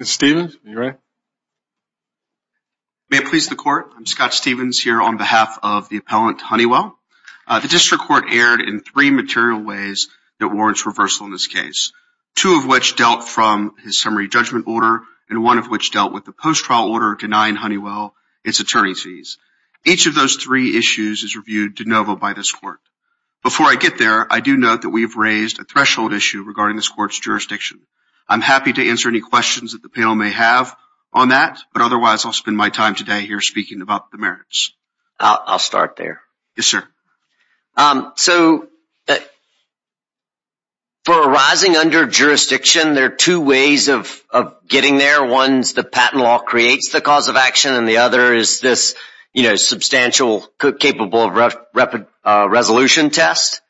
Mr. Stevens, are you ready? May it please the Court, I'm Scott Stevens here on behalf of the appellant Honeywell. The District Court erred in three material ways that warrants reversal in this case, two of which dealt from his summary judgment order and one of which dealt with the post-trial order denying Honeywell its attorney's fees. Each of those three issues is reviewed de novo by this Court. Before I get there, I do note that we have raised a threshold issue regarding this Court's jurisdiction. I'm happy to answer any questions that the panel may have on that, but otherwise I'll spend my time today here speaking about the merits. I'll start there. Yes, sir. So for a rising under-jurisdiction, there are two ways of getting there. One is that patent law creates the cause of action, and the other is this substantial, capable resolution test.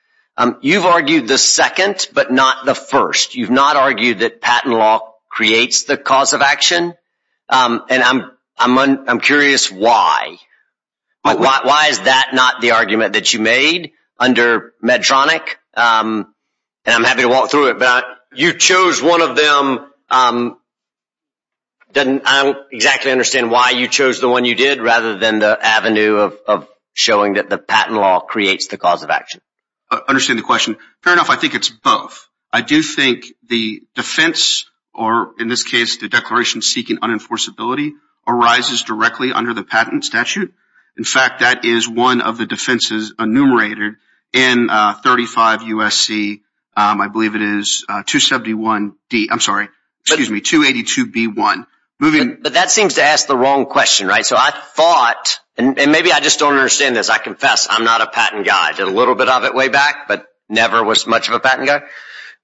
You've argued the second, but not the first. You've not argued that patent law creates the cause of action, and I'm curious why. Why is that not the argument that you made under Medtronic? And I'm happy to walk through it, but you chose one of them. I don't exactly understand why you chose the one you did rather than the avenue of showing that the patent law creates the cause of action. I understand the question. Fair enough. I think it's both. I do think the defense, or in this case the declaration seeking unenforceability, arises directly under the patent statute. In fact, that is one of the defenses enumerated in 35 U.S.C., I believe it is, 271D, I'm sorry, excuse me, 282B1. But that seems to ask the wrong question, right? So I thought, and maybe I just don't understand this, I confess I'm not a patent guy. I did a little bit of it way back, but never was much of a patent guy.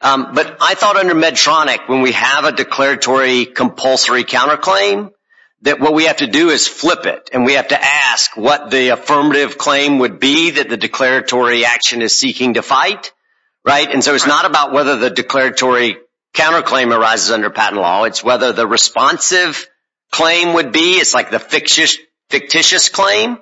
But I thought under Medtronic, when we have a declaratory compulsory counterclaim, that what we have to do is flip it. And we have to ask what the affirmative claim would be that the declaratory action is seeking to fight, right? And so it's not about whether the declaratory counterclaim arises under patent law. It's whether the responsive claim would be, it's like the fictitious claim.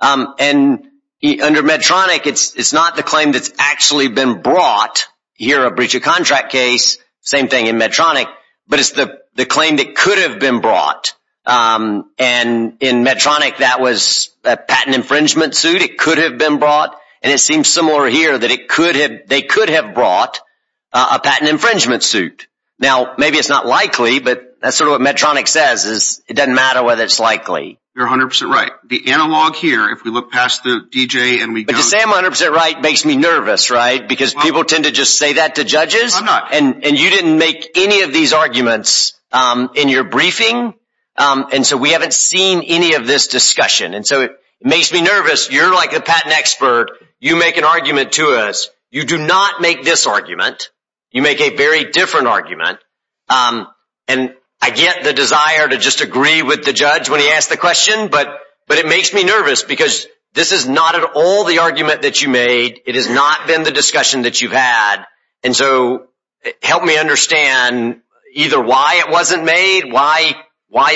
And under Medtronic, it's not the claim that's actually been brought. Here, a breach of contract case, same thing in Medtronic. But it's the claim that could have been brought. And in Medtronic, that was a patent infringement suit. It could have been brought. And it seems similar here that they could have brought a patent infringement suit. Now, maybe it's not likely, but that's sort of what Medtronic says is it doesn't matter whether it's likely. You're 100% right. The analog here, if we look past the D.J. and we go to- But to say I'm 100% right makes me nervous, right? Because people tend to just say that to judges. I'm not. And you didn't make any of these arguments in your briefing. And so we haven't seen any of this discussion. And so it makes me nervous. You're like a patent expert. You make an argument to us. You do not make this argument. You make a very different argument. And I get the desire to just agree with the judge when he asks the question. But it makes me nervous because this is not at all the argument that you made. It has not been the discussion that you've had. And so help me understand either why it wasn't made, why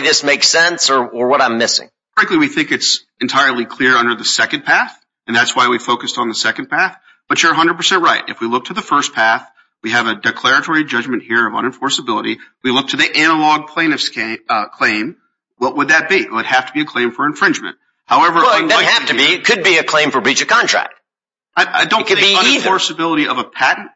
this makes sense, or what I'm missing. Frankly, we think it's entirely clear under the second path. And that's why we focused on the second path. But you're 100% right. If we look to the first path, we have a declaratory judgment here of unenforceability. We look to the analog plaintiff's claim. What would that be? It would have to be a claim for infringement. Well, it doesn't have to be. It could be a claim for breach of contract. It could be either. I don't think unenforceability of a patent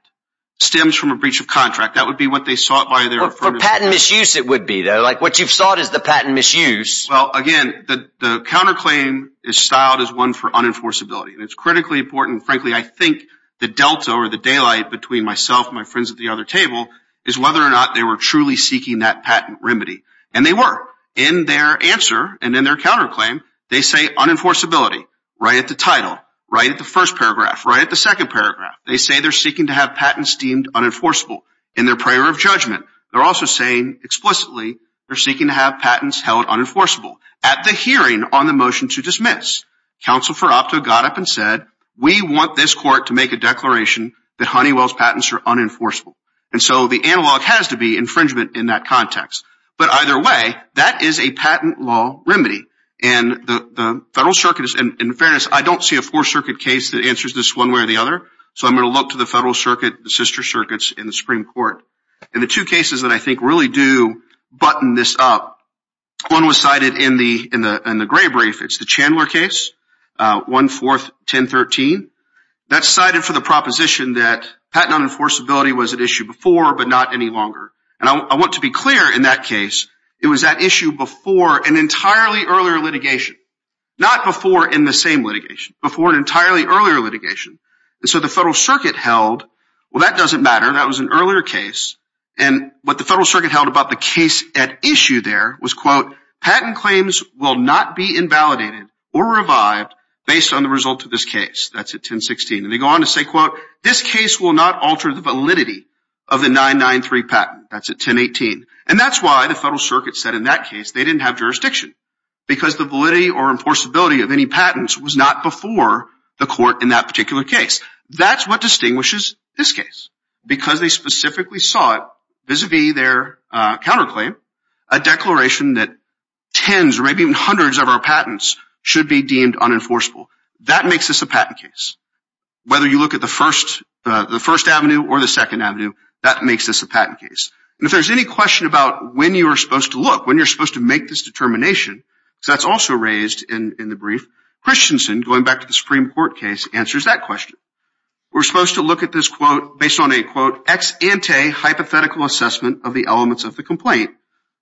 stems from a breach of contract. That would be what they sought by their- For patent misuse it would be, though. Like what you've sought is the patent misuse. Well, again, the counterclaim is styled as one for unenforceability. And it's critically important. Frankly, I think the delta or the daylight between myself and my friends at the other table is whether or not they were truly seeking that patent remedy. And they were. In their answer and in their counterclaim, they say unenforceability. Right at the title. Right at the first paragraph. Right at the second paragraph. They say they're seeking to have patents deemed unenforceable. In their prayer of judgment, they're also saying explicitly they're seeking to have patents held unenforceable. At the hearing on the motion to dismiss, Counsel for Opto got up and said, We want this court to make a declaration that Honeywell's patents are unenforceable. And so the analog has to be infringement in that context. But either way, that is a patent law remedy. And the Federal Circuit is- In fairness, I don't see a Fourth Circuit case that answers this one way or the other. So I'm going to look to the Federal Circuit, the sister circuits in the Supreme Court. And the two cases that I think really do button this up, one was cited in the gray brief. It's the Chandler case, 1-4-10-13. That's cited for the proposition that patent unenforceability was at issue before, but not any longer. And I want to be clear in that case, it was at issue before an entirely earlier litigation. Not before in the same litigation. Before an entirely earlier litigation. And so the Federal Circuit held- Well, that doesn't matter. That was an earlier case. And what the Federal Circuit held about the case at issue there was, quote, patent claims will not be invalidated or revived based on the results of this case. That's at 10-16. And they go on to say, quote, this case will not alter the validity of the 9-9-3 patent. That's at 10-18. And that's why the Federal Circuit said in that case they didn't have jurisdiction. Because the validity or enforceability of any patents was not before the court in that particular case. That's what distinguishes this case. Because they specifically sought, vis-a-vis their counterclaim, a declaration that tens or maybe even hundreds of our patents should be deemed unenforceable. That makes this a patent case. Whether you look at the first avenue or the second avenue, that makes this a patent case. And if there's any question about when you're supposed to look, when you're supposed to make this determination, because that's also raised in the brief, Christensen, going back to the Supreme Court case, answers that question. We're supposed to look at this, quote, based on a, quote, ex-ante hypothetical assessment of the elements of the complaint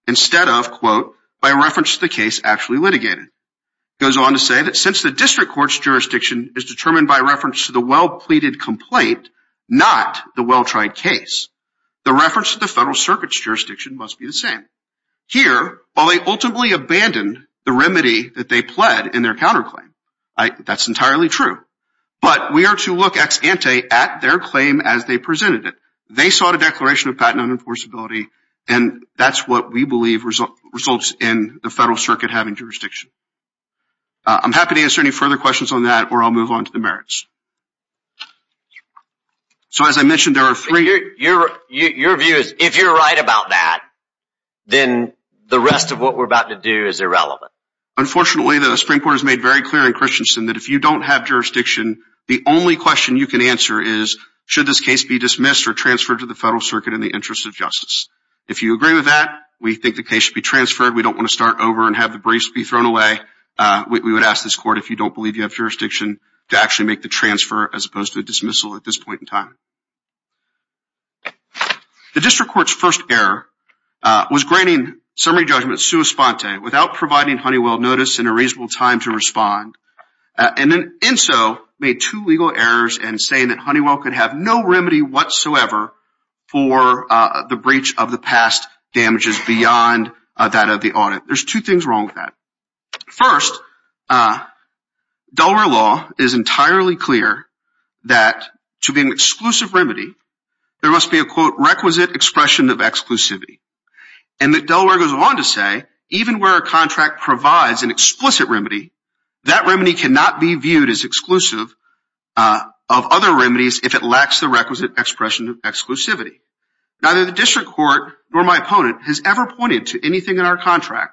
instead of, quote, by reference to the case actually litigated. It goes on to say that since the district court's jurisdiction is determined by reference to the well-pleaded complaint, not the well-tried case, the reference to the Federal Circuit's jurisdiction must be the same. Here, while they ultimately abandoned the remedy that they pled in their counterclaim, that's entirely true. But we are to look ex-ante at their claim as they presented it. They sought a declaration of patent unenforceability, and that's what we believe results in the Federal Circuit having jurisdiction. I'm happy to answer any further questions on that, or I'll move on to the merits. So as I mentioned, there are three. Your view is if you're right about that, then the rest of what we're about to do is irrelevant. Unfortunately, the Supreme Court has made very clear in Christensen that if you don't have jurisdiction, the only question you can answer is should this case be dismissed or transferred to the Federal Circuit in the interest of justice. If you agree with that, we think the case should be transferred. We don't want to start over and have the briefs be thrown away. We would ask this court, if you don't believe you have jurisdiction, to actually make the transfer as opposed to the dismissal at this point in time. The district court's first error was granting summary judgment sua sponte without providing Honeywell notice and a reasonable time to respond, and then in so made two legal errors in saying that Honeywell could have no remedy whatsoever for the breach of the past damages beyond that of the audit. There's two things wrong with that. First, Delaware law is entirely clear that to be an exclusive remedy, there must be a, quote, requisite expression of exclusivity, and that Delaware goes on to say even where a contract provides an explicit remedy, that remedy cannot be viewed as exclusive of other remedies if it lacks the requisite expression of exclusivity. Neither the district court nor my opponent has ever pointed to anything in our contract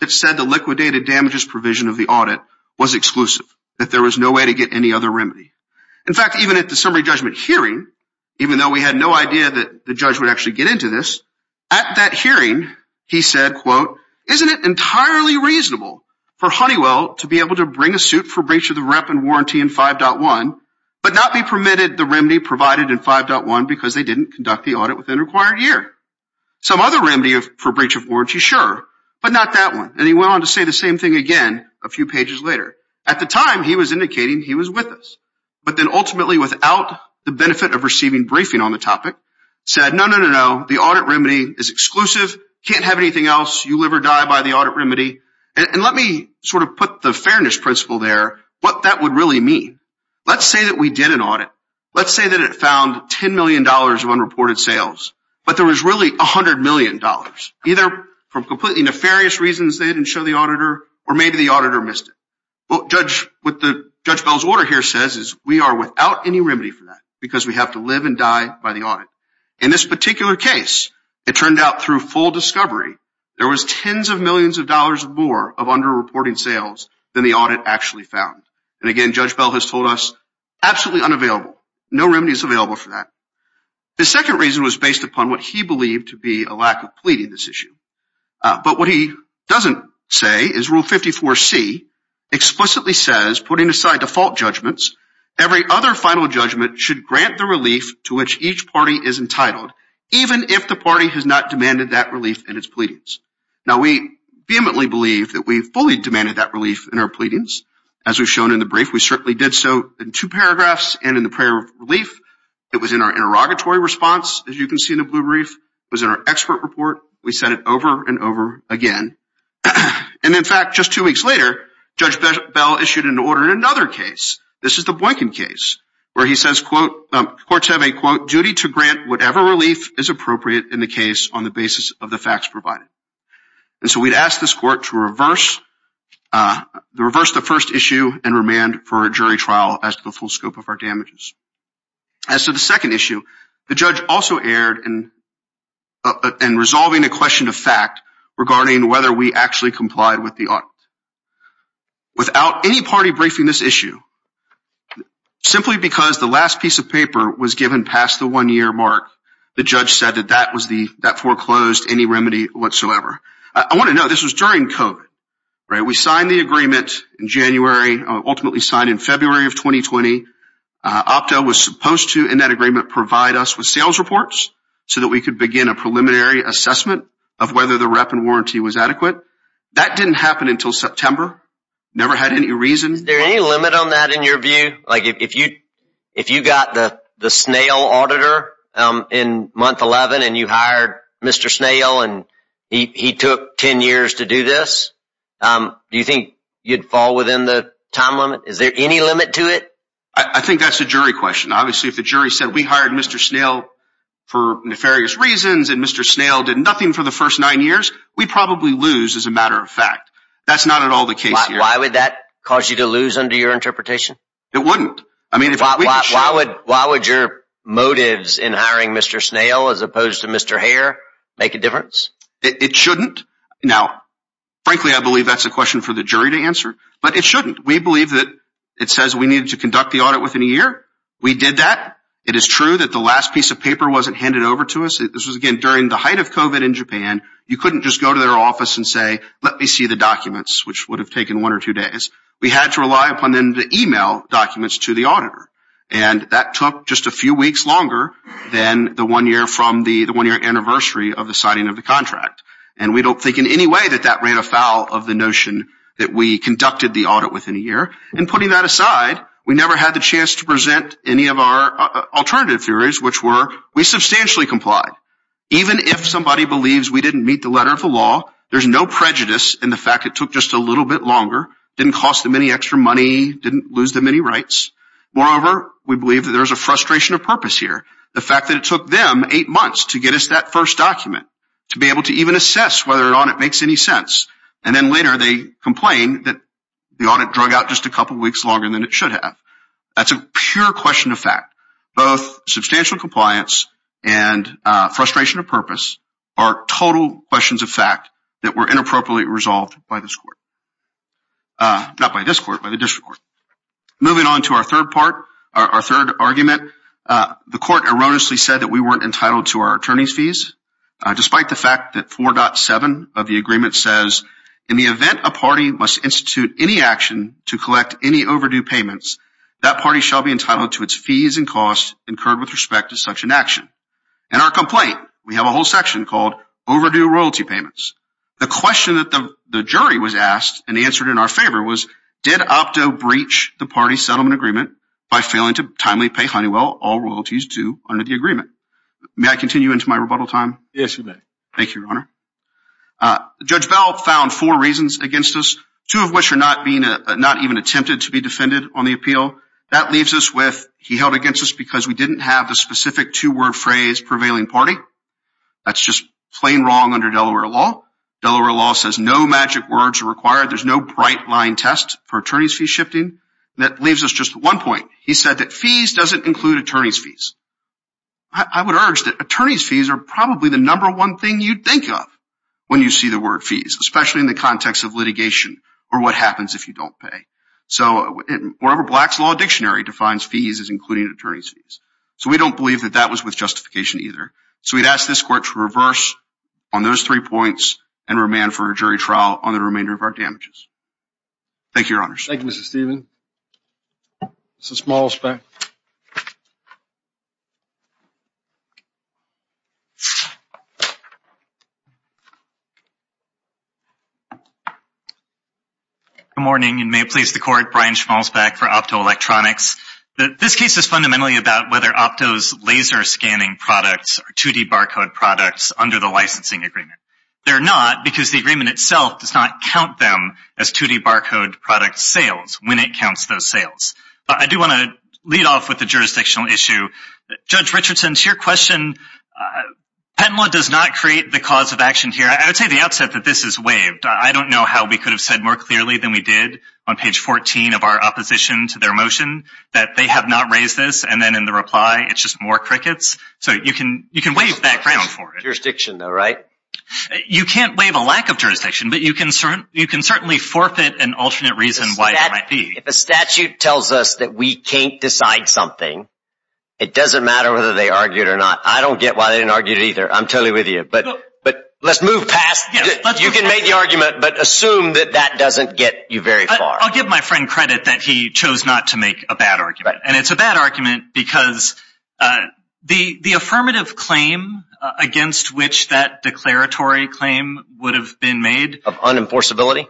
that said the liquidated damages provision of the audit was exclusive, that there was no way to get any other remedy. In fact, even at the summary judgment hearing, even though we had no idea that the judge would actually get into this, at that hearing he said, quote, isn't it entirely reasonable for Honeywell to be able to bring a suit for breach of the rep and warranty in 5.1 but not be permitted the remedy provided in 5.1 because they didn't conduct the audit within the required year? Some other remedy for breach of warranty, sure, but not that one. And he went on to say the same thing again a few pages later. At the time, he was indicating he was with us, but then ultimately without the benefit of receiving briefing on the topic, said, no, no, no, no, the audit remedy is exclusive, can't have anything else, you live or die by the audit remedy. And let me sort of put the fairness principle there, what that would really mean. Let's say that we did an audit. Let's say that it found $10 million of unreported sales, but there was really $100 million, either for completely nefarious reasons they didn't show the auditor or maybe the auditor missed it. What Judge Bell's order here says is we are without any remedy for that because we have to live and die by the audit. In this particular case, it turned out through full discovery, there was tens of millions of dollars more of underreported sales than the audit actually found. And, again, Judge Bell has told us absolutely unavailable, no remedy is available for that. The second reason was based upon what he believed to be a lack of pleading this issue. But what he doesn't say is Rule 54C explicitly says, putting aside default judgments, every other final judgment should grant the relief to which each party is entitled even if the party has not demanded that relief in its pleadings. Now, we vehemently believe that we fully demanded that relief in our pleadings. As we've shown in the brief, we certainly did so in two paragraphs and in the prayer of relief. It was in our interrogatory response, as you can see in the blue brief. It was in our expert report. We said it over and over again. And, in fact, just two weeks later, Judge Bell issued an order in another case. This is the Boykin case where he says courts have a, quote, duty to grant whatever relief is appropriate in the case on the basis of the facts provided. And so we'd ask this court to reverse the first issue and remand for a jury trial as to the full scope of our damages. As to the second issue, the judge also erred in resolving a question of fact regarding whether we actually complied with the audit. Without any party briefing this issue, simply because the last piece of paper was given past the one-year mark, the judge said that that foreclosed any remedy whatsoever. I want to note this was during COVID. We signed the agreement in January, ultimately signed in February of 2020. OPTA was supposed to, in that agreement, provide us with sales reports so that we could begin a preliminary assessment of whether the rep and warranty was adequate. That didn't happen until September. Never had any reason. Is there any limit on that in your view? Like if you got the snail auditor in month 11 and you hired Mr. Snail and he took 10 years to do this, do you think you'd fall within the time limit? Is there any limit to it? I think that's a jury question. Obviously, if the jury said we hired Mr. Snail for nefarious reasons and Mr. Snail did nothing for the first nine years, we'd probably lose as a matter of fact. That's not at all the case here. Why would that cause you to lose under your interpretation? It wouldn't. Why would your motives in hiring Mr. Snail as opposed to Mr. Hare make a difference? It shouldn't. Now, frankly, I believe that's a question for the jury to answer, but it shouldn't. We believe that it says we needed to conduct the audit within a year. We did that. It is true that the last piece of paper wasn't handed over to us. This was, again, during the height of COVID in Japan. You couldn't just go to their office and say, let me see the documents, which would have taken one or two days. We had to rely upon them to email documents to the auditor. And that took just a few weeks longer than the one year from the one-year anniversary of the signing of the contract. And we don't think in any way that that ran afoul of the notion that we conducted the audit within a year. And putting that aside, we never had the chance to present any of our alternative theories, which were we substantially complied. Even if somebody believes we didn't meet the letter of the law, there's no prejudice in the fact it took just a little bit longer, didn't cost them any extra money, didn't lose them any rights. Moreover, we believe that there's a frustration of purpose here. The fact that it took them eight months to get us that first document, to be able to even assess whether an audit makes any sense, and then later they complain that the audit drug out just a couple weeks longer than it should have. That's a pure question of fact. Both substantial compliance and frustration of purpose are total questions of fact that were inappropriately resolved by this court. Not by this court, by the district court. Moving on to our third part, our third argument, the court erroneously said that we weren't entitled to our attorney's fees. Despite the fact that 4.7 of the agreement says, in the event a party must institute any action to collect any overdue payments, that party shall be entitled to its fees and costs incurred with respect to such an action. In our complaint, we have a whole section called overdue royalty payments. The question that the jury was asked and answered in our favor was, did Opto breach the party settlement agreement by failing to timely pay Honeywell all royalties due under the agreement? May I continue into my rebuttal time? Yes, you may. Thank you, Your Honor. Judge Bell found four reasons against us, two of which are not even attempted to be defended on the appeal. That leaves us with, he held against us because we didn't have the specific two-word phrase prevailing party. That's just plain wrong under Delaware law. Delaware law says no magic words are required. There's no bright line test for attorney's fee shifting. That leaves us just one point. He said that fees doesn't include attorney's fees. I would urge that attorney's fees are probably the number one thing you'd think of when you see the word fees, especially in the context of litigation or what happens if you don't pay. So wherever Black's Law Dictionary defines fees as including attorney's fees. So we don't believe that that was with justification either. So we'd ask this court to reverse on those three points and remand for a jury trial on the remainder of our damages. Thank you, Your Honor. Thank you, Mr. Stephen. Mr. Schmalzbeck. Good morning and may it please the court, Brian Schmalzbeck for Opto Electronics. This case is fundamentally about whether Opto's laser scanning products are 2D barcode products under the licensing agreement. They're not because the agreement itself does not count them as 2D barcode product sales. When it counts those sales. I do want to lead off with the jurisdictional issue. Judge Richardson, to your question, patent law does not create the cause of action here. I would say at the outset that this is waived. I don't know how we could have said more clearly than we did on page 14 of our opposition to their motion that they have not raised this and then in the reply it's just more crickets. So you can waive that ground for it. Jurisdiction though, right? You can't waive a lack of jurisdiction, but you can certainly forfeit an alternate reason why it might be. If a statute tells us that we can't decide something, it doesn't matter whether they argue it or not. I don't get why they didn't argue it either. I'm totally with you, but let's move past that. You can make the argument, but assume that that doesn't get you very far. I'll give my friend credit that he chose not to make a bad argument. And it's a bad argument because the affirmative claim against which that declaratory claim would have been made. Of unenforceability?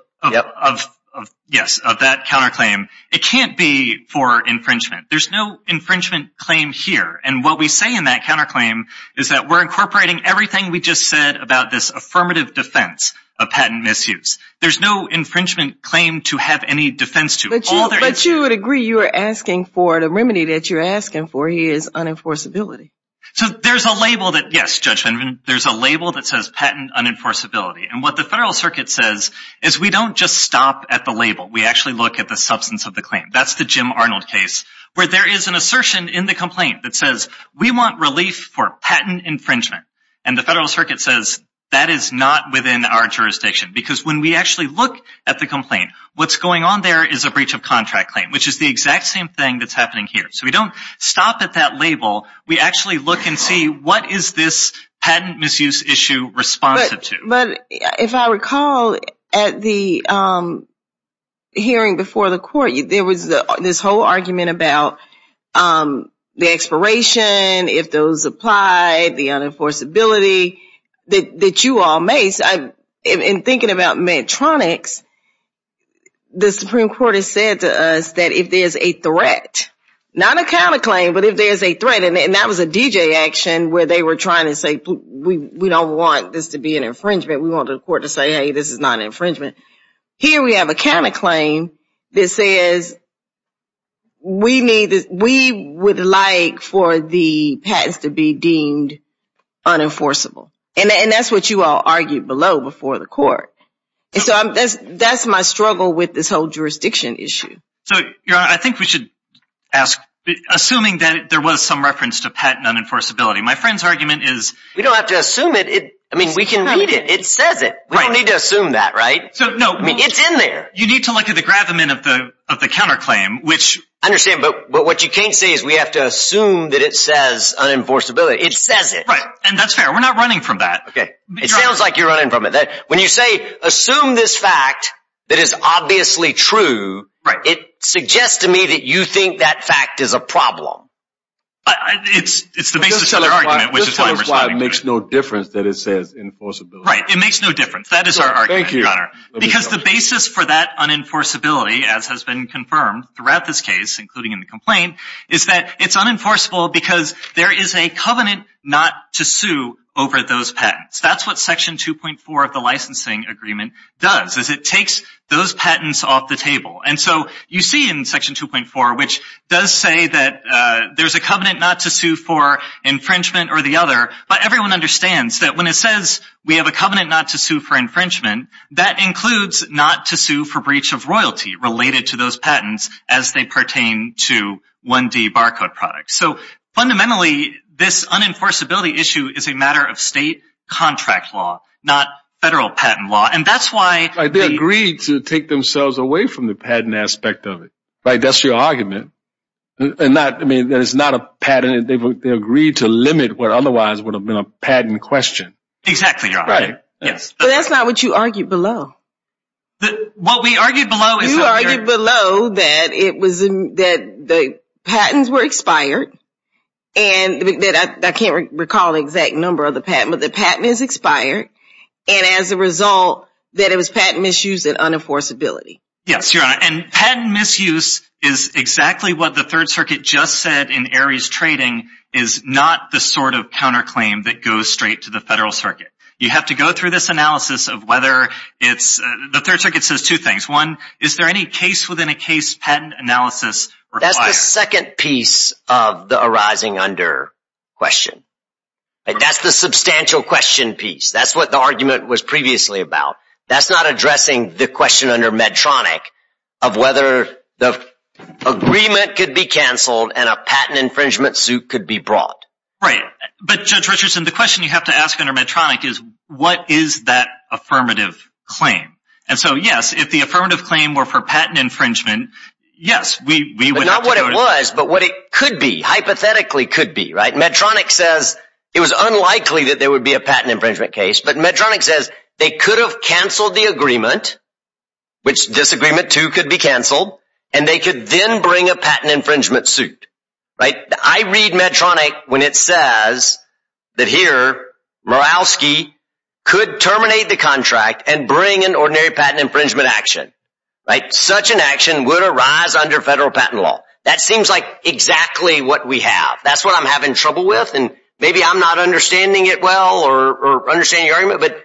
Yes, of that counterclaim. It can't be for infringement. There's no infringement claim here. And what we say in that counterclaim is that we're incorporating everything we just said about this affirmative defense of patent misuse. There's no infringement claim to have any defense to. But you would agree you are asking for the remedy that you're asking for is unenforceability. So there's a label that, yes, Judge Fenneman, there's a label that says patent unenforceability. And what the Federal Circuit says is we don't just stop at the label. We actually look at the substance of the claim. That's the Jim Arnold case where there is an assertion in the complaint that says we want relief for patent infringement. And the Federal Circuit says that is not within our jurisdiction because when we actually look at the complaint, what's going on there is a breach of contract claim, which is the exact same thing that's happening here. So we don't stop at that label. We actually look and see what is this patent misuse issue responsive to. But if I recall at the hearing before the court, there was this whole argument about the expiration, if those apply, the unenforceability that you all make. In thinking about Medtronics, the Supreme Court has said to us that if there's a threat, not a counterclaim, but if there's a threat, and that was a DJ action where they were trying to say we don't want this to be an infringement. We want the court to say, hey, this is not an infringement. Here we have a counterclaim that says we would like for the patents to be deemed unenforceable. And that's what you all argued below before the court. And so that's my struggle with this whole jurisdiction issue. So, Your Honor, I think we should ask, assuming that there was some reference to patent unenforceability. My friend's argument is... We don't have to assume it. I mean, we can read it. It says it. We don't need to assume that, right? It's in there. You need to look at the gravamen of the counterclaim, which... I understand. But what you can't say is we have to assume that it says unenforceability. It says it. Right. And that's fair. We're not running from that. Okay. It sounds like you're running from it. When you say, assume this fact that is obviously true, it suggests to me that you think that fact is a problem. It's the basis of our argument, which is why we're standing here. It makes no difference that it says unenforceability. Right. It makes no difference. That is our argument, Your Honor. Because the basis for that unenforceability, as has been confirmed throughout this case, including in the complaint, is that it's unenforceable because there is a covenant not to sue over those patents. That's what Section 2.4 of the licensing agreement does, is it takes those patents off the table. And so you see in Section 2.4, which does say that there's a covenant not to sue for infringement or the other, but everyone understands that when it says we have a covenant not to sue for infringement, that includes not to sue for breach of royalty related to those patents as they pertain to 1D barcode products. So fundamentally, this unenforceability issue is a matter of state contract law, not federal patent law. And that's why they agreed to take themselves away from the patent aspect of it. That's your argument. And that is not a patent. They agreed to limit what otherwise would have been a patent question. Exactly, Your Honor. But that's not what you argued below. What we argued below is that the patents were expired. I can't recall the exact number of the patent, but the patent is expired. And as a result, that it was patent misuse and unenforceability. Yes, Your Honor. And patent misuse is exactly what the Third Circuit just said in Aries Trading, is not the sort of counterclaim that goes straight to the federal circuit. You have to go through this analysis of whether it's – the Third Circuit says two things. One, is there any case-within-a-case patent analysis required? That's the second piece of the arising under question. That's the substantial question piece. That's what the argument was previously about. That's not addressing the question under Medtronic of whether the agreement could be canceled and a patent infringement suit could be brought. Right. But Judge Richardson, the question you have to ask under Medtronic is what is that affirmative claim? And so, yes, if the affirmative claim were for patent infringement, yes, we would have to go to – But not what it was, but what it could be, hypothetically could be, right? Medtronic says it was unlikely that there would be a patent infringement case, but Medtronic says they could have canceled the agreement, which disagreement two could be canceled, and they could then bring a patent infringement suit, right? I read Medtronic when it says that here, Murawski could terminate the contract and bring an ordinary patent infringement action, right? Such an action would arise under federal patent law. That seems like exactly what we have. That's what I'm having trouble with, and maybe I'm not understanding it well or understanding your argument, but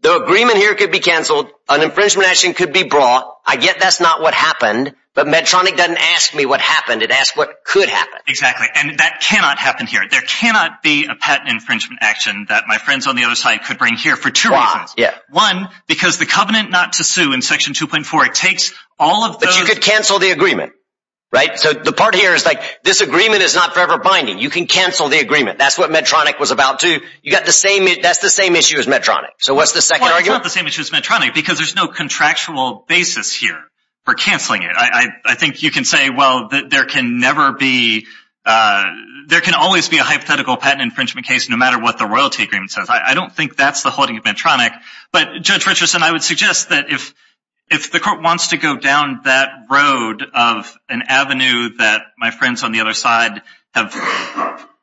the agreement here could be canceled. An infringement action could be brought. I get that's not what happened, but Medtronic doesn't ask me what happened. It asked what could happen. Exactly, and that cannot happen here. There cannot be a patent infringement action that my friends on the other side could bring here for two reasons. One, because the covenant not to sue in Section 2.4, it takes all of those – But you could cancel the agreement, right? So the part here is like this agreement is not forever binding. You can cancel the agreement. That's what Medtronic was about to – that's the same issue as Medtronic. So what's the second argument? Well, it's not the same issue as Medtronic because there's no contractual basis here for canceling it. I think you can say, well, there can never be – there can always be a hypothetical patent infringement case no matter what the royalty agreement says. I don't think that's the holding of Medtronic. But, Judge Richardson, I would suggest that if the court wants to go down that road of an avenue that my friends on the other side have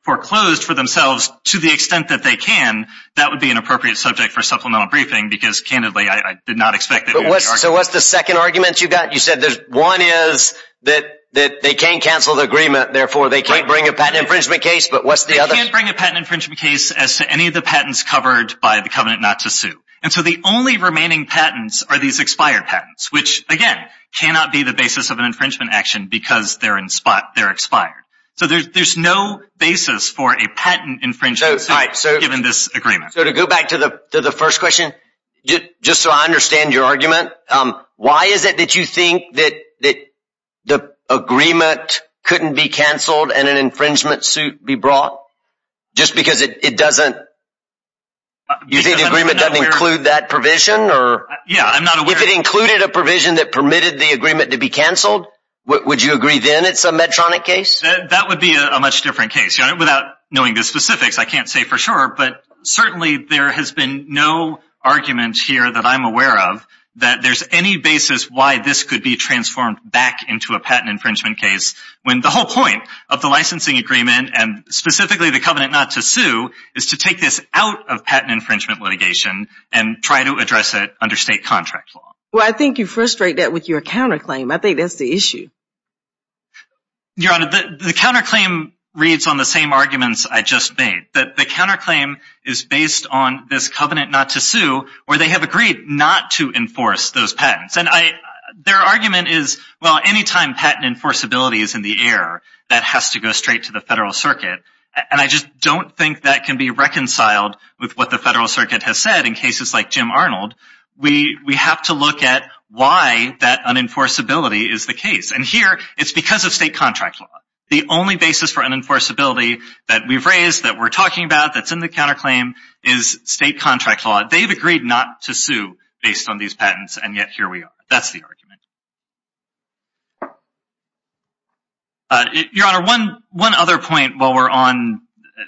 foreclosed for themselves to the extent that they can, that would be an appropriate subject for supplemental briefing because, candidly, I did not expect – So what's the second argument you got? You said one is that they can cancel the agreement. Therefore, they can't bring a patent infringement case. But what's the other – They can't bring a patent infringement case as to any of the patents covered by the covenant not to sue. And so the only remaining patents are these expired patents, which, again, cannot be the basis of an infringement action because they're in spot – they're expired. So there's no basis for a patent infringement case given this agreement. So to go back to the first question, just so I understand your argument, why is it that you think that the agreement couldn't be canceled and an infringement suit be brought just because it doesn't – you think the agreement doesn't include that provision or – Yeah, I'm not aware – If it included a provision that permitted the agreement to be canceled, would you agree then it's a Medtronic case? That would be a much different case. Without knowing the specifics, I can't say for sure. But certainly there has been no argument here that I'm aware of that there's any basis why this could be transformed back into a patent infringement case when the whole point of the licensing agreement and specifically the covenant not to sue is to take this out of patent infringement litigation and try to address it under state contract law. Well, I think you frustrate that with your counterclaim. I think that's the issue. Your Honor, the counterclaim reads on the same arguments I just made, that the counterclaim is based on this covenant not to sue where they have agreed not to enforce those patents. And their argument is, well, anytime patent enforceability is in the air, that has to go straight to the federal circuit. And I just don't think that can be reconciled with what the federal circuit has said in cases like Jim Arnold. We have to look at why that unenforceability is the case. And here it's because of state contract law. The only basis for unenforceability that we've raised, that we're talking about, that's in the counterclaim is state contract law. They've agreed not to sue based on these patents, and yet here we are. That's the argument. Your Honor, one other point while we're on.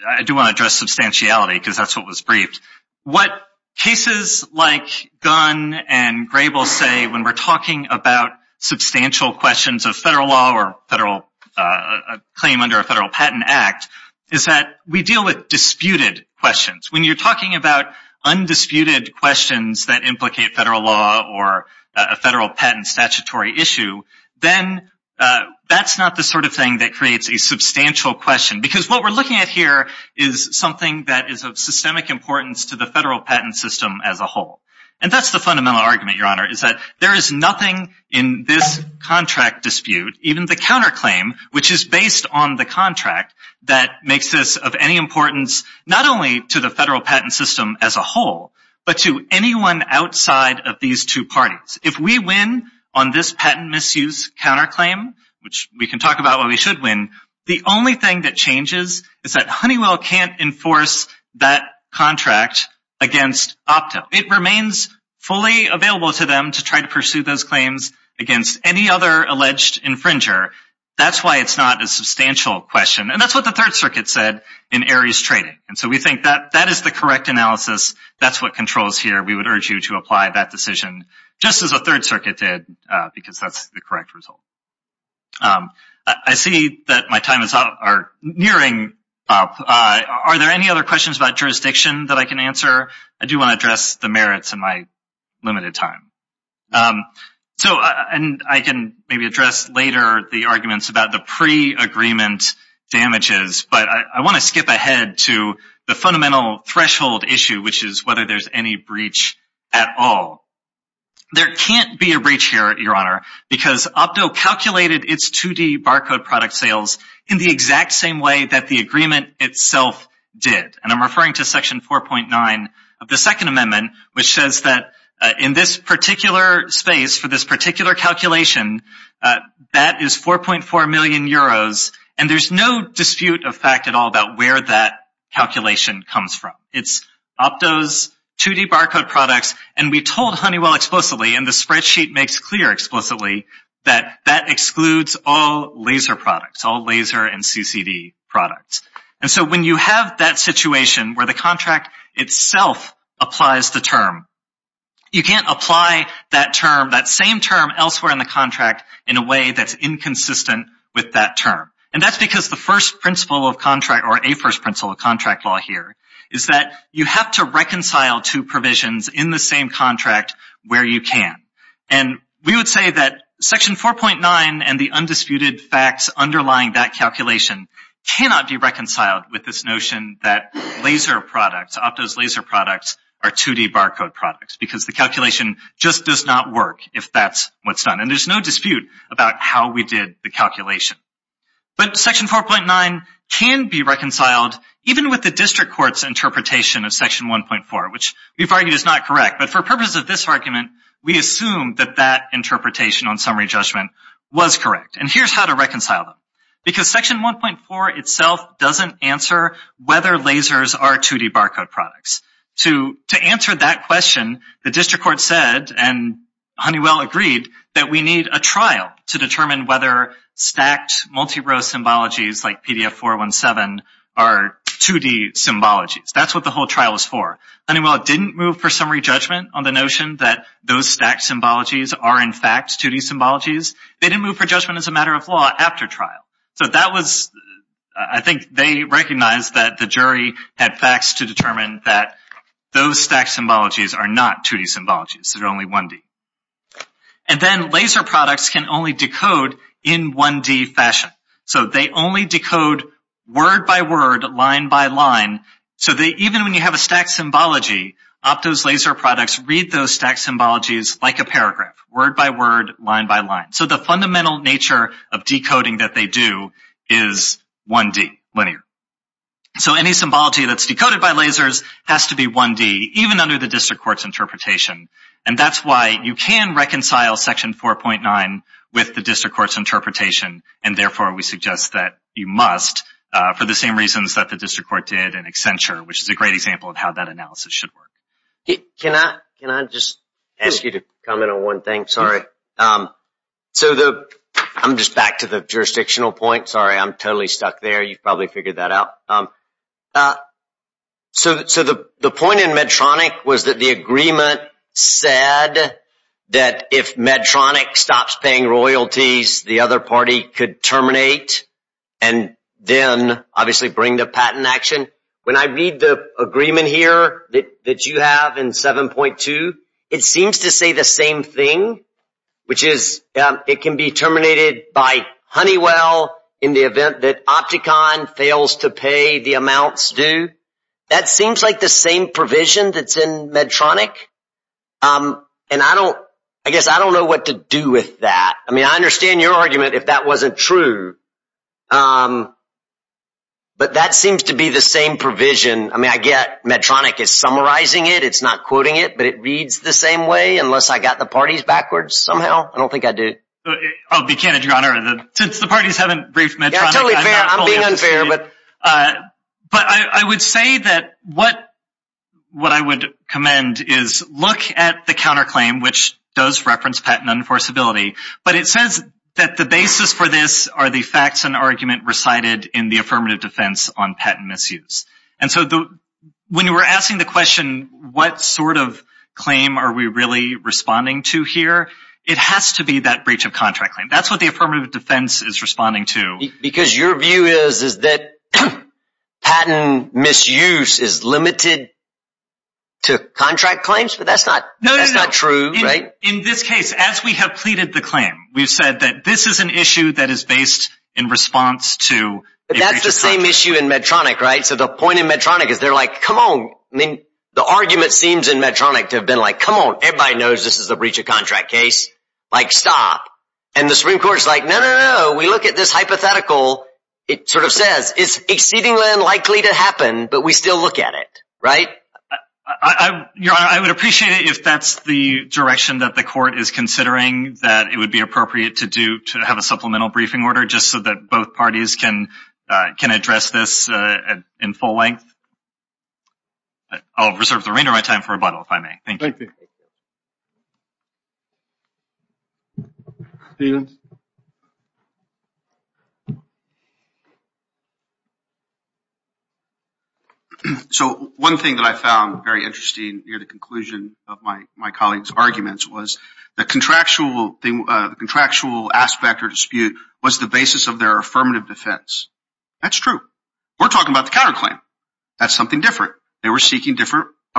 I do want to address substantiality because that's what was briefed. What cases like Gunn and Grable say when we're talking about substantial questions of federal law or a claim under a federal patent act is that we deal with disputed questions. When you're talking about undisputed questions that implicate federal law or a federal patent statutory issue, then that's not the sort of thing that creates a substantial question because what we're looking at here is something that is of systemic importance to the federal patent system as a whole. And that's the fundamental argument, Your Honor, is that there is nothing in this contract dispute, even the counterclaim, which is based on the contract, that makes this of any importance not only to the federal patent system as a whole but to anyone outside of these two parties. If we win on this patent misuse counterclaim, which we can talk about why we should win, the only thing that changes is that Honeywell can't enforce that contract against Opto. It remains fully available to them to try to pursue those claims against any other alleged infringer. That's why it's not a substantial question. And that's what the Third Circuit said in Aries Trading. And so we think that that is the correct analysis. That's what controls here. We would urge you to apply that decision just as the Third Circuit did because that's the correct result. I see that my time is nearing up. Are there any other questions about jurisdiction that I can answer? I do want to address the merits in my limited time. I can maybe address later the arguments about the pre-agreement damages, but I want to skip ahead to the fundamental threshold issue, which is whether there's any breach at all. There can't be a breach here, Your Honor, because Opto calculated its 2D barcode product sales in the exact same way that the agreement itself did. And I'm referring to Section 4.9 of the Second Amendment, which says that in this particular space for this particular calculation, that is 4.4 million euros. And there's no dispute of fact at all about where that calculation comes from. It's Opto's 2D barcode products. And we told Honeywell explicitly, and the spreadsheet makes clear explicitly, that that excludes all laser products, all laser and CCD products. And so when you have that situation where the contract itself applies the term, you can't apply that term, that same term elsewhere in the contract, in a way that's inconsistent with that term. And that's because the first principle of contract, or a first principle of contract law here, is that you have to reconcile two provisions in the same contract where you can. And we would say that Section 4.9 and the undisputed facts underlying that calculation cannot be reconciled with this notion that laser products, Opto's laser products, are 2D barcode products because the calculation just does not work if that's what's done. And there's no dispute about how we did the calculation. But Section 4.9 can be reconciled even with the district court's interpretation of Section 1.4, which we've argued is not correct. But for purposes of this argument, we assume that that interpretation on summary judgment was correct. And here's how to reconcile them. Because Section 1.4 itself doesn't answer whether lasers are 2D barcode products. To answer that question, the district court said, and Honeywell agreed, that we need a trial to determine whether stacked multi-row symbologies like PDF417 are 2D symbologies. That's what the whole trial is for. Honeywell didn't move for summary judgment on the notion that those stacked symbologies are, in fact, 2D symbologies. They didn't move for judgment as a matter of law after trial. So that was, I think they recognized that the jury had facts to determine that those stacked symbologies are not 2D symbologies. They're only 1D. And then laser products can only decode in 1D fashion. So they only decode word by word, line by line. So even when you have a stacked symbology, Opto's laser products read those stacked symbologies like a paragraph, word by word, line by line. So the fundamental nature of decoding that they do is 1D, linear. So any symbology that's decoded by lasers has to be 1D, even under the district court's interpretation. And that's why you can reconcile Section 4.9 with the district court's interpretation, and therefore we suggest that you must, for the same reasons that the district court did in Accenture, which is a great example of how that analysis should work. Can I just ask you to comment on one thing? I'm just back to the jurisdictional point. Sorry, I'm totally stuck there. You probably figured that out. So the point in Medtronic was that the agreement said that if Medtronic stops paying royalties, the other party could terminate and then obviously bring the patent action. And when I read the agreement here that you have in 7.2, it seems to say the same thing, which is it can be terminated by Honeywell in the event that Opticon fails to pay the amounts due. That seems like the same provision that's in Medtronic, and I guess I don't know what to do with that. I mean, I understand your argument if that wasn't true, but that seems to be the same provision. I mean, I get Medtronic is summarizing it. It's not quoting it, but it reads the same way unless I got the parties backwards somehow. I don't think I do. I'll be candid, Your Honor. Since the parties haven't briefed Medtronic, I'm not fully understanding it. Yeah, totally fair. I'm being unfair. But I would say that what I would commend is look at the counterclaim, which does reference patent unenforceability, but it says that the basis for this are the facts and argument recited in the affirmative defense on patent misuse. And so when you were asking the question, what sort of claim are we really responding to here, it has to be that breach of contract claim. That's what the affirmative defense is responding to. Because your view is that patent misuse is limited to contract claims, but that's not true. In this case, as we have pleaded the claim, we've said that this is an issue that is based in response to a breach of contract. But that's the same issue in Medtronic, right? So the point in Medtronic is they're like, come on. I mean, the argument seems in Medtronic to have been like, come on. Everybody knows this is a breach of contract case. Like, stop. And the Supreme Court is like, no, no, no. We look at this hypothetical. It sort of says it's exceedingly unlikely to happen, but we still look at it, right? Your Honor, I would appreciate it if that's the direction that the court is considering, that it would be appropriate to have a supplemental briefing order just so that both parties can address this in full length. I'll reserve the remainder of my time for rebuttal, if I may. Thank you. Thank you. Stevens. So one thing that I found very interesting near the conclusion of my colleague's arguments was the contractual aspect or dispute was the basis of their affirmative defense. That's true. We're talking about the counterclaim. That's something different. They were seeking a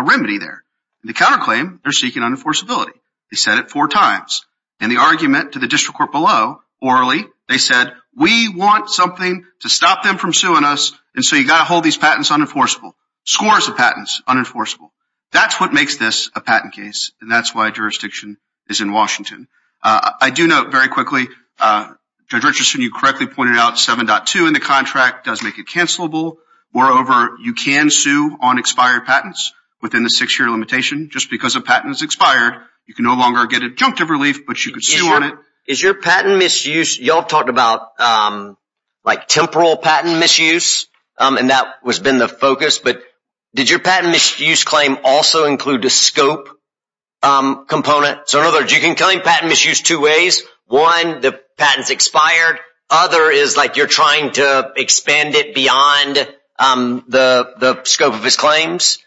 remedy there. In the counterclaim, they're seeking unenforceability. They said it four times. In the argument to the district court below, orally, they said, we want something to stop them from suing us, and so you've got to hold these patents unenforceable. Scores of patents unenforceable. That's what makes this a patent case, and that's why jurisdiction is in Washington. I do note very quickly, Judge Richardson, you correctly pointed out 7.2 in the contract does make it cancelable. Moreover, you can sue on expired patents within the six-year limitation. Just because a patent is expired, you can no longer get adjunctive relief, but you can sue on it. Is your patent misuse, you all talked about like temporal patent misuse, and that has been the focus, but did your patent misuse claim also include the scope component? So in other words, you can claim patent misuse two ways. One, the patent's expired. Other is like you're trying to expand it beyond the scope of his claims.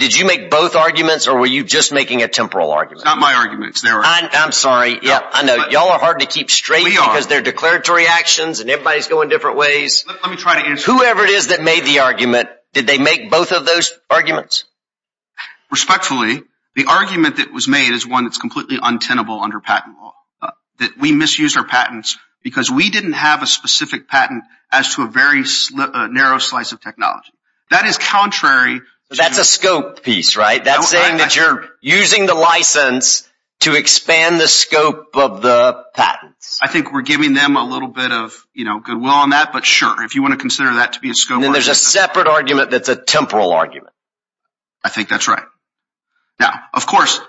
Did you make both arguments, or were you just making a temporal argument? It's not my arguments. I'm sorry. Yeah, I know. Y'all are hard to keep straight because they're declaratory actions and everybody's going different ways. Let me try to answer. Whoever it is that made the argument, did they make both of those arguments? Respectfully, the argument that was made is one that's completely untenable under patent law. We misused our patents because we didn't have a specific patent as to a very narrow slice of technology. That is contrary. That's a scope piece, right? That's saying that you're using the license to expand the scope of the patents. I think we're giving them a little bit of goodwill on that, but sure, if you want to consider that to be a scope. Then there's a separate argument that's a temporal argument. I think that's right. Now, of course,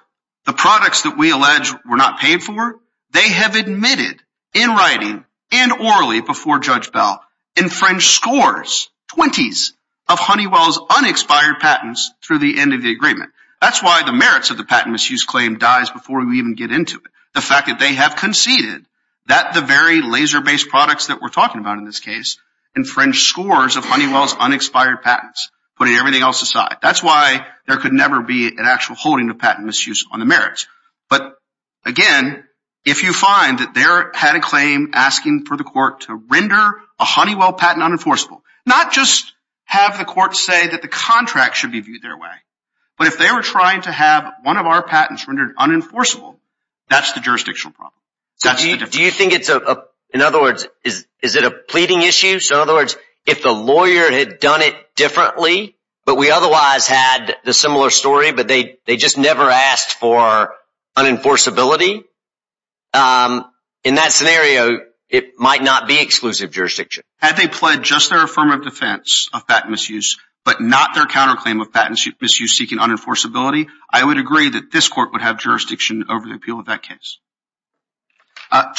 the products that we allege we're not paying for, they have admitted in writing and orally before Judge Bell, infringed scores, 20s, of Honeywell's unexpired patents through the end of the agreement. That's why the merits of the patent misuse claim dies before we even get into it. The fact that they have conceded that the very laser-based products that we're talking about in this case infringed scores of Honeywell's unexpired patents, putting everything else aside. That's why there could never be an actual holding of patent misuse on the merits. But, again, if you find that they had a claim asking for the court to render a Honeywell patent unenforceable, not just have the court say that the contract should be viewed their way, but if they were trying to have one of our patents rendered unenforceable, that's the jurisdictional problem. Do you think it's a – in other words, is it a pleading issue? So, in other words, if the lawyer had done it differently, but we otherwise had the similar story, but they just never asked for unenforceability, in that scenario, it might not be exclusive jurisdiction. Had they pledged just their affirmative defense of patent misuse, but not their counterclaim of patent misuse seeking unenforceability, I would agree that this court would have jurisdiction over the appeal of that case.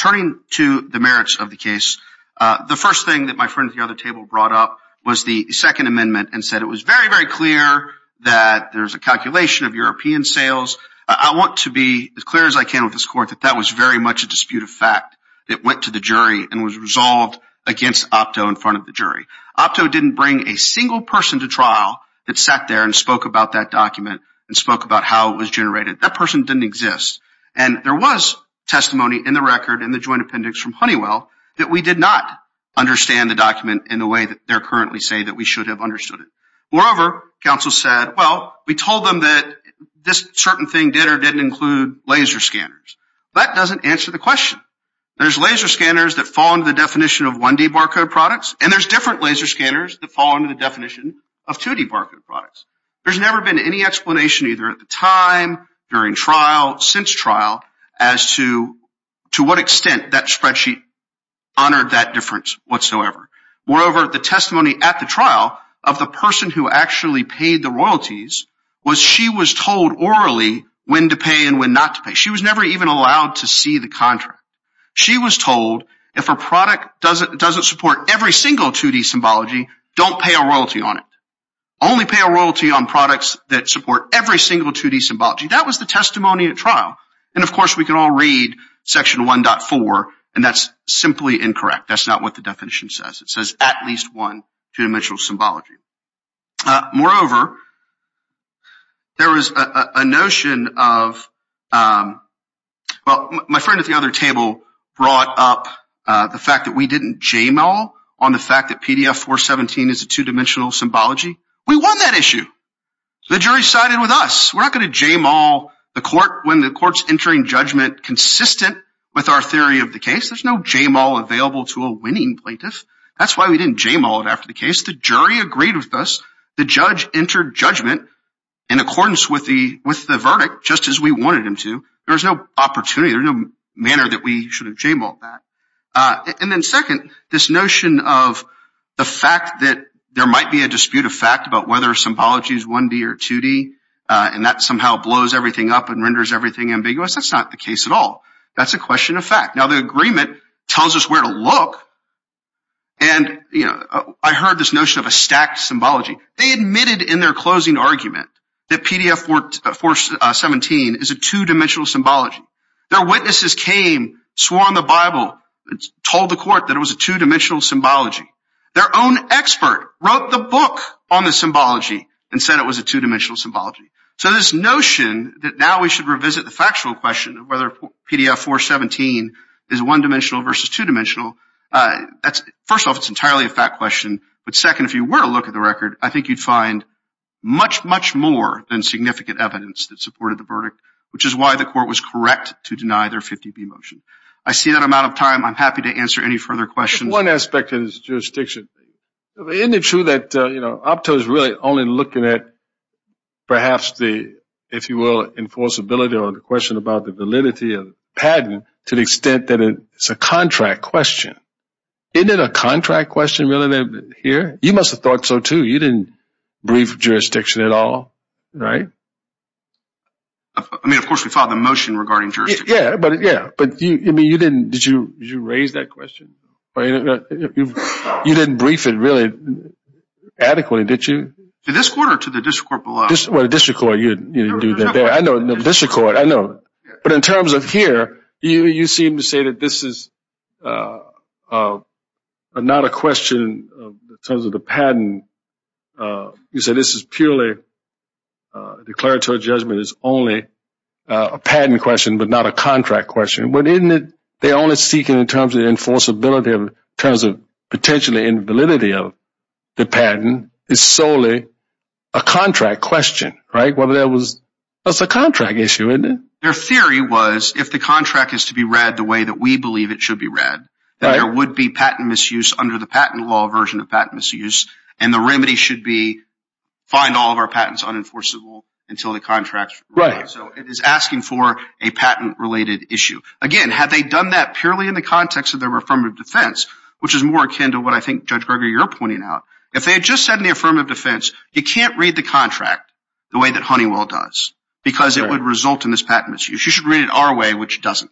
Turning to the merits of the case, the first thing that my friend at the other table brought up was the Second Amendment and said it was very, very clear that there's a calculation of European sales. I want to be as clear as I can with this court that that was very much a dispute of fact. It went to the jury and was resolved against Opto in front of the jury. Opto didn't bring a single person to trial that sat there and spoke about that document and spoke about how it was generated. That person didn't exist, and there was testimony in the record in the joint appendix from Honeywell that we did not understand the document in the way that they're currently saying that we should have understood it. Moreover, counsel said, well, we told them that this certain thing did or didn't include laser scanners. That doesn't answer the question. There's laser scanners that fall under the definition of 1D barcode products, and there's different laser scanners that fall under the definition of 2D barcode products. There's never been any explanation either at the time, during trial, since trial, as to what extent that spreadsheet honored that difference whatsoever. Moreover, the testimony at the trial of the person who actually paid the royalties was she was told orally when to pay and when not to pay. She was never even allowed to see the contract. She was told if a product doesn't support every single 2D symbology, don't pay a royalty on it. Only pay a royalty on products that support every single 2D symbology. That was the testimony at trial. And, of course, we can all read Section 1.4, and that's simply incorrect. That's not what the definition says. It says at least one two-dimensional symbology. Moreover, there was a notion of, well, my friend at the other table brought up the fact that we didn't jame-all on the fact that PDF-417 is a two-dimensional symbology. We won that issue. The jury sided with us. We're not going to jame-all the court when the court's entering judgment consistent with our theory of the case. There's no jame-all available to a winning plaintiff. That's why we didn't jame-all it after the case. The jury agreed with us. The judge entered judgment in accordance with the verdict just as we wanted him to. There was no opportunity. There was no manner that we should have jame-all that. And then second, this notion of the fact that there might be a dispute of fact about whether a symbology is 1D or 2D, and that somehow blows everything up and renders everything ambiguous, that's not the case at all. That's a question of fact. Now, the agreement tells us where to look. And, you know, I heard this notion of a stacked symbology. They admitted in their closing argument that PDF-417 is a two-dimensional symbology. Their witnesses came, swore on the Bible, told the court that it was a two-dimensional symbology. Their own expert wrote the book on the symbology and said it was a two-dimensional symbology. So this notion that now we should revisit the factual question of whether PDF-417 is one-dimensional versus two-dimensional, first off, it's entirely a fact question, but second, if you were to look at the record, I think you'd find much, much more than significant evidence that supported the verdict, which is why the court was correct to deny their 50B motion. I see that I'm out of time. I'm happy to answer any further questions. One aspect is jurisdiction. Isn't it true that Opto is really only looking at perhaps the, if you will, enforceability or the question about the validity of the patent to the extent that it's a contract question? Isn't it a contract question, really, here? You must have thought so, too. You didn't brief jurisdiction at all, right? I mean, of course, we filed a motion regarding jurisdiction. Yeah, but you didn't. Did you raise that question? You didn't brief it really adequately, did you? To this court or to the district court below? Well, the district court, you didn't do that there. I know, the district court, I know. But in terms of here, you seem to say that this is not a question in terms of the patent. You said this is purely a declaratory judgment. It's only a patent question but not a contract question. Well, isn't it they're only seeking in terms of the enforceability, in terms of potentially in validity of the patent, is solely a contract question, right? Well, that's a contract issue, isn't it? Their theory was if the contract is to be read the way that we believe it should be read, that there would be patent misuse under the patent law version of patent misuse, and the remedy should be find all of our patents unenforceable until the contract is reviewed. So it is asking for a patent-related issue. Again, had they done that purely in the context of their affirmative defense, which is more akin to what I think, Judge Greger, you're pointing out, if they had just said in the affirmative defense, you can't read the contract the way that Honeywell does because it would result in this patent misuse. You should read it our way, which it doesn't.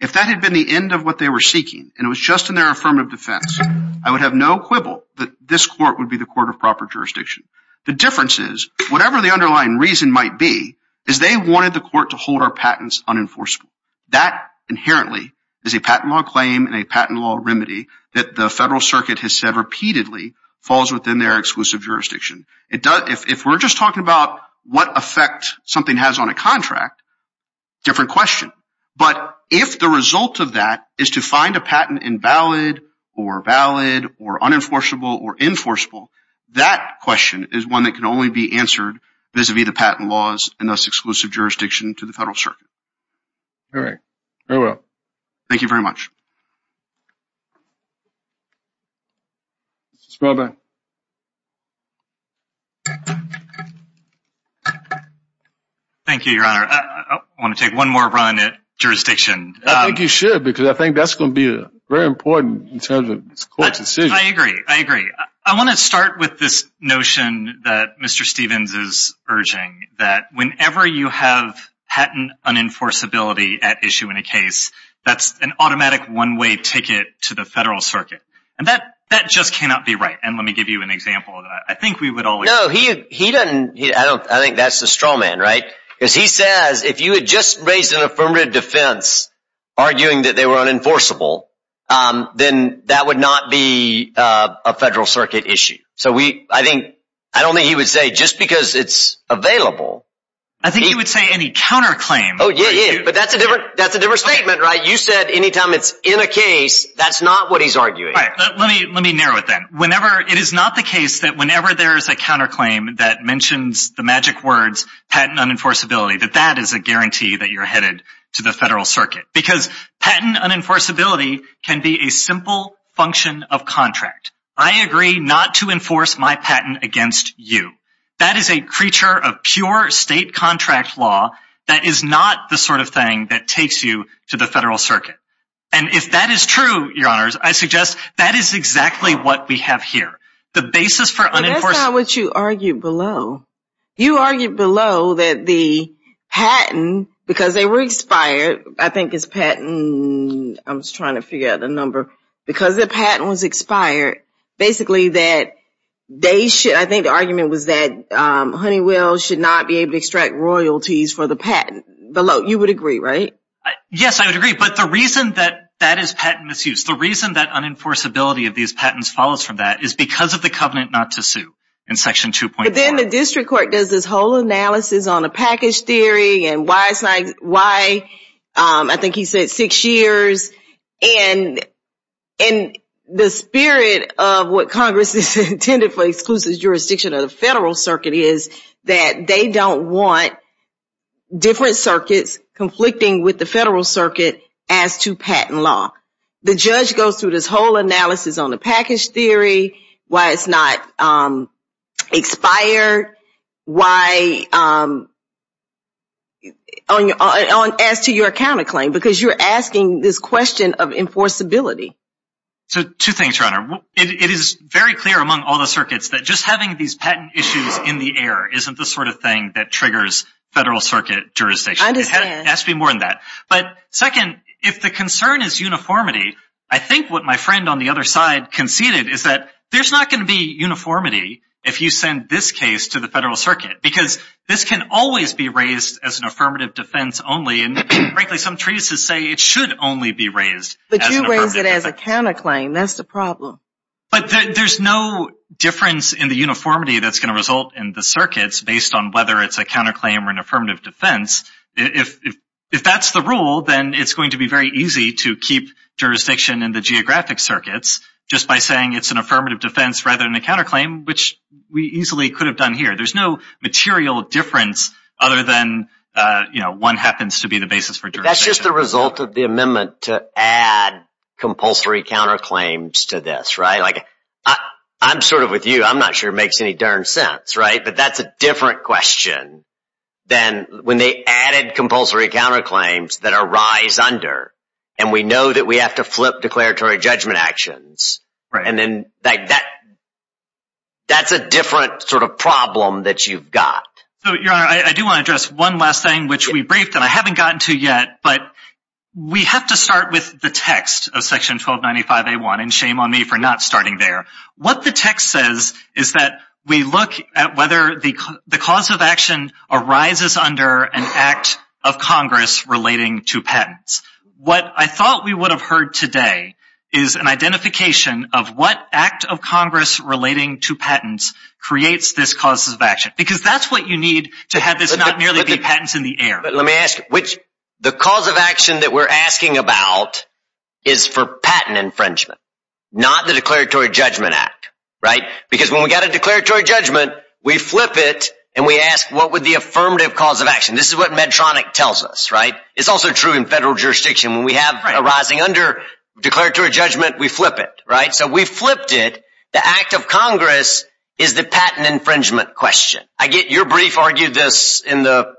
If that had been the end of what they were seeking and it was just in their affirmative defense, I would have no quibble that this court would be the court of proper jurisdiction. The difference is, whatever the underlying reason might be, is they wanted the court to hold our patents unenforceable. That inherently is a patent law claim and a patent law remedy that the Federal Circuit has said repeatedly falls within their exclusive jurisdiction. If we're just talking about what effect something has on a contract, different question. But if the result of that is to find a patent invalid or valid or unenforceable or enforceable, that question is one that can only be answered vis-à-vis the patent laws and thus exclusive jurisdiction to the Federal Circuit. All right. Very well. Thank you very much. Mr. Spaulding. Thank you, Your Honor. I want to take one more run at jurisdiction. I think you should because I think that's going to be very important in terms of this court's decision. I agree. I agree. I want to start with this notion that Mr. Stevens is urging, that whenever you have patent unenforceability at issue in a case, that's an automatic one-way ticket to the Federal Circuit. And that just cannot be right. And let me give you an example of that. I think we would all agree. No, he doesn't. I think that's the straw man, right? Because he says if you had just raised an affirmative defense arguing that they were unenforceable, then that would not be a Federal Circuit issue. So I don't think he would say just because it's available. I think he would say any counterclaim. Oh, yeah, yeah. But that's a different statement, right? You said any time it's in a case, that's not what he's arguing. All right. Let me narrow it then. It is not the case that whenever there is a counterclaim that mentions the magic words patent unenforceability, that that is a guarantee that you're headed to the Federal Circuit. Because patent unenforceability can be a simple function of contract. I agree not to enforce my patent against you. That is a creature of pure state contract law. That is not the sort of thing that takes you to the Federal Circuit. And if that is true, Your Honors, I suggest that is exactly what we have here. The basis for unenforceability. But that's not what you argued below. You argued below that the patent, because they were expired, I think it's patent. I was trying to figure out the number. Because the patent was expired, basically, I think the argument was that Honeywell should not be able to extract royalties for the patent below. You would agree, right? Yes, I would agree. But the reason that that is patent misuse, the reason that unenforceability of these patents follows from that is because of the covenant not to sue in Section 2.4. But then the District Court does this whole analysis on the package theory and why, I think he said six years. And the spirit of what Congress has intended for exclusive jurisdiction of the Federal Circuit is that they don't want different circuits conflicting with the Federal Circuit as to patent law. The judge goes through this whole analysis on the package theory, why it's not expired, as to your counterclaim. Because you're asking this question of enforceability. So two things, Your Honor. It is very clear among all the circuits that just having these patent issues in the air isn't the sort of thing that triggers Federal Circuit jurisdiction. I understand. It has to be more than that. But second, if the concern is uniformity, I think what my friend on the other side conceded is that there's not going to be uniformity if you send this case to the Federal Circuit. Because this can always be raised as an affirmative defense only. And frankly, some treatises say it should only be raised as an affirmative defense. But you raise it as a counterclaim. That's the problem. But there's no difference in the uniformity that's going to result in the circuits based on whether it's a counterclaim or an affirmative defense. If that's the rule, then it's going to be very easy to keep jurisdiction in the geographic circuits just by saying it's an affirmative defense rather than a counterclaim, which we easily could have done here. There's no material difference other than one happens to be the basis for jurisdiction. That's just the result of the amendment to add compulsory counterclaims to this, right? I'm sort of with you. I'm not sure it makes any darn sense, right? But that's a different question than when they added compulsory counterclaims that are rise under. And we know that we have to flip declaratory judgment actions. And then that's a different sort of problem that you've got. Your Honor, I do want to address one last thing, which we briefed and I haven't gotten to yet. But we have to start with the text of Section 1295A1. And shame on me for not starting there. What the text says is that we look at whether the cause of action arises under an act of Congress relating to patents. What I thought we would have heard today is an identification of what act of Congress relating to patents creates this cause of action. Because that's what you need to have this not merely be patents in the air. Let me ask you. The cause of action that we're asking about is for patent infringement, not the declaratory judgment act, right? Because when we get a declaratory judgment, we flip it and we ask, what would the affirmative cause of action? This is what Medtronic tells us, right? It's also true in federal jurisdiction. When we have arising under declaratory judgment, we flip it, right? So we flipped it. The act of Congress is the patent infringement question. I get your brief argued this in the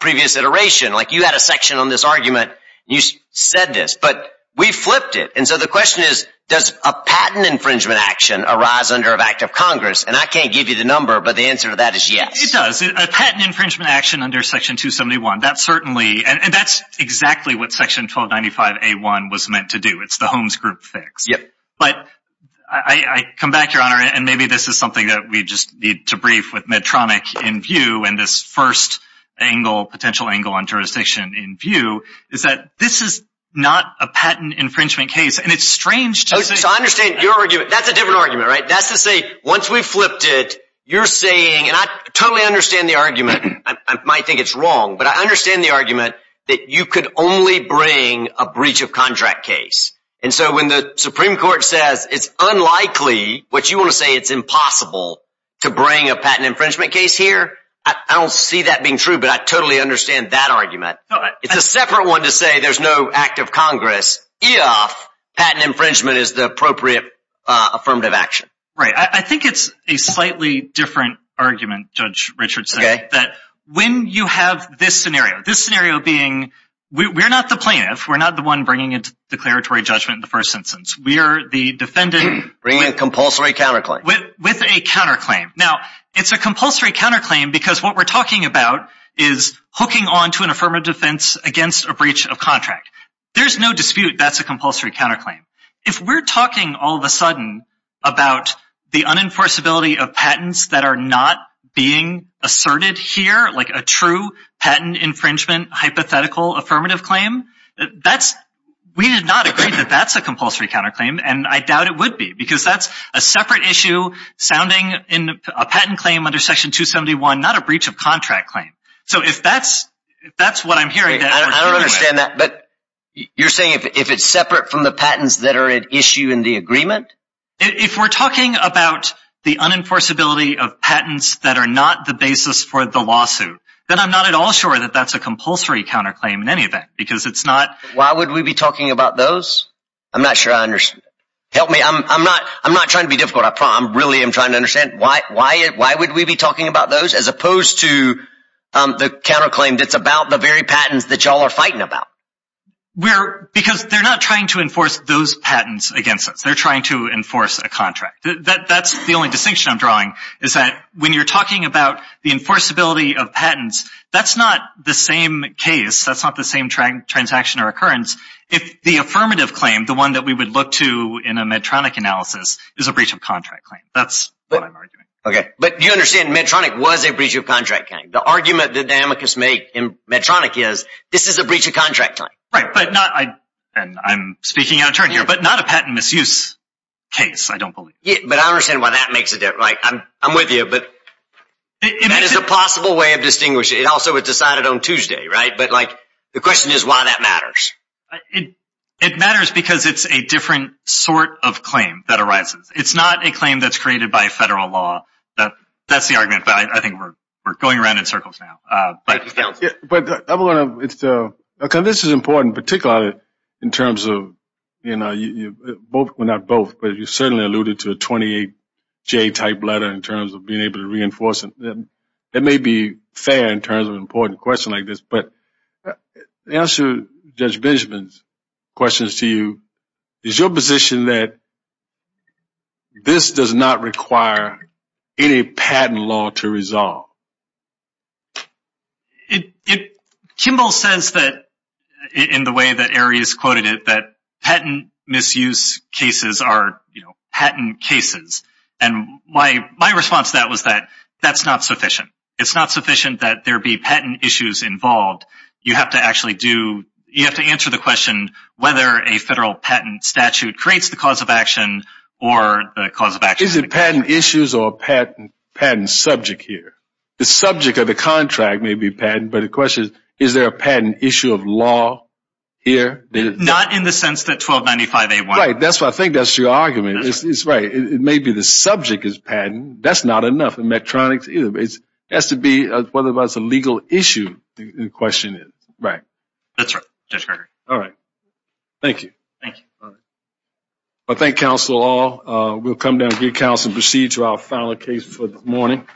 previous iteration. You had a section on this argument. You said this. But we flipped it. And so the question is, does a patent infringement action arise under an act of Congress? And I can't give you the number, but the answer to that is yes. It does. A patent infringement action under Section 271, that's certainly and that's exactly what Section 1295A1 was meant to do. It's the Holmes Group fix. Yep. But I come back, Your Honor, and maybe this is something that we just need to brief with Medtronic in view, and this first angle, potential angle on jurisdiction in view is that this is not a patent infringement case. And it's strange to say. So I understand your argument. That's a different argument, right? That's to say once we flipped it, you're saying, and I totally understand the argument. I might think it's wrong, but I understand the argument that you could only bring a breach of contract case. And so when the Supreme Court says it's unlikely, which you want to say it's impossible to bring a patent infringement case here, I don't see that being true, but I totally understand that argument. It's a separate one to say there's no act of Congress if patent infringement is the appropriate affirmative action. Right. I think it's a slightly different argument, Judge Richardson, that when you have this scenario, this scenario being we're not the plaintiff. We're not the one bringing a declaratory judgment in the first instance. We are the defendant. Bringing a compulsory counterclaim. With a counterclaim. Now, it's a compulsory counterclaim because what we're talking about is hooking on to an affirmative defense against a breach of contract. There's no dispute that's a compulsory counterclaim. If we're talking all of a sudden about the unenforceability of patents that are not being asserted here, like a true patent infringement hypothetical affirmative claim, we did not agree that that's a compulsory counterclaim, and I doubt it would be because that's a separate issue sounding in a patent claim under Section 271, not a breach of contract claim. So if that's what I'm hearing. I don't understand that, but you're saying if it's separate from the patents that are at issue in the agreement? If we're talking about the unenforceability of patents that are not the basis for the lawsuit, then I'm not at all sure that that's a compulsory counterclaim in any event because it's not. Why would we be talking about those? I'm not sure I understand. Help me. I'm not trying to be difficult. I really am trying to understand why would we be talking about those as opposed to the counterclaim that's about the very patents that y'all are fighting about? Because they're not trying to enforce those patents against us. They're trying to enforce a contract. That's the only distinction I'm drawing is that when you're talking about the enforceability of patents, that's not the same case. That's not the same transaction or occurrence. If the affirmative claim, the one that we would look to in a Medtronic analysis, is a breach of contract claim. That's what I'm arguing. Okay, but you understand Medtronic was a breach of contract claim. The argument that the amicus make in Medtronic is this is a breach of contract claim. I'm speaking out of turn here, but not a patent misuse case, I don't believe. But I understand why that makes a difference. I'm with you, but that is a possible way of distinguishing. It also was decided on Tuesday, right? But the question is why that matters. It matters because it's a different sort of claim that arises. It's not a claim that's created by federal law. That's the argument, but I think we're going around in circles now. This is important, particularly in terms of, well, not both, but you certainly alluded to a 28J type letter in terms of being able to reinforce it. That may be fair in terms of an important question like this, but to answer Judge Benjamin's questions to you, is your position that this does not require any patent law to resolve? Kimball says that, in the way that Arias quoted it, that patent misuse cases are patent cases. And my response to that was that that's not sufficient. It's not sufficient that there be patent issues involved. You have to actually answer the question whether a federal patent statute creates the cause of action or the cause of action. Is it patent issues or patent subject here? The subject of the contract may be patent, but the question is, is there a patent issue of law here? Not in the sense that 1295A1. Right. I think that's your argument. It's right. It may be the subject is patent. That's not enough. It has to be whether it's a legal issue, the question is. That's right. All right. Thank you. All right. I thank counsel all. We'll come down and get counsel and proceed to our final case for this morning.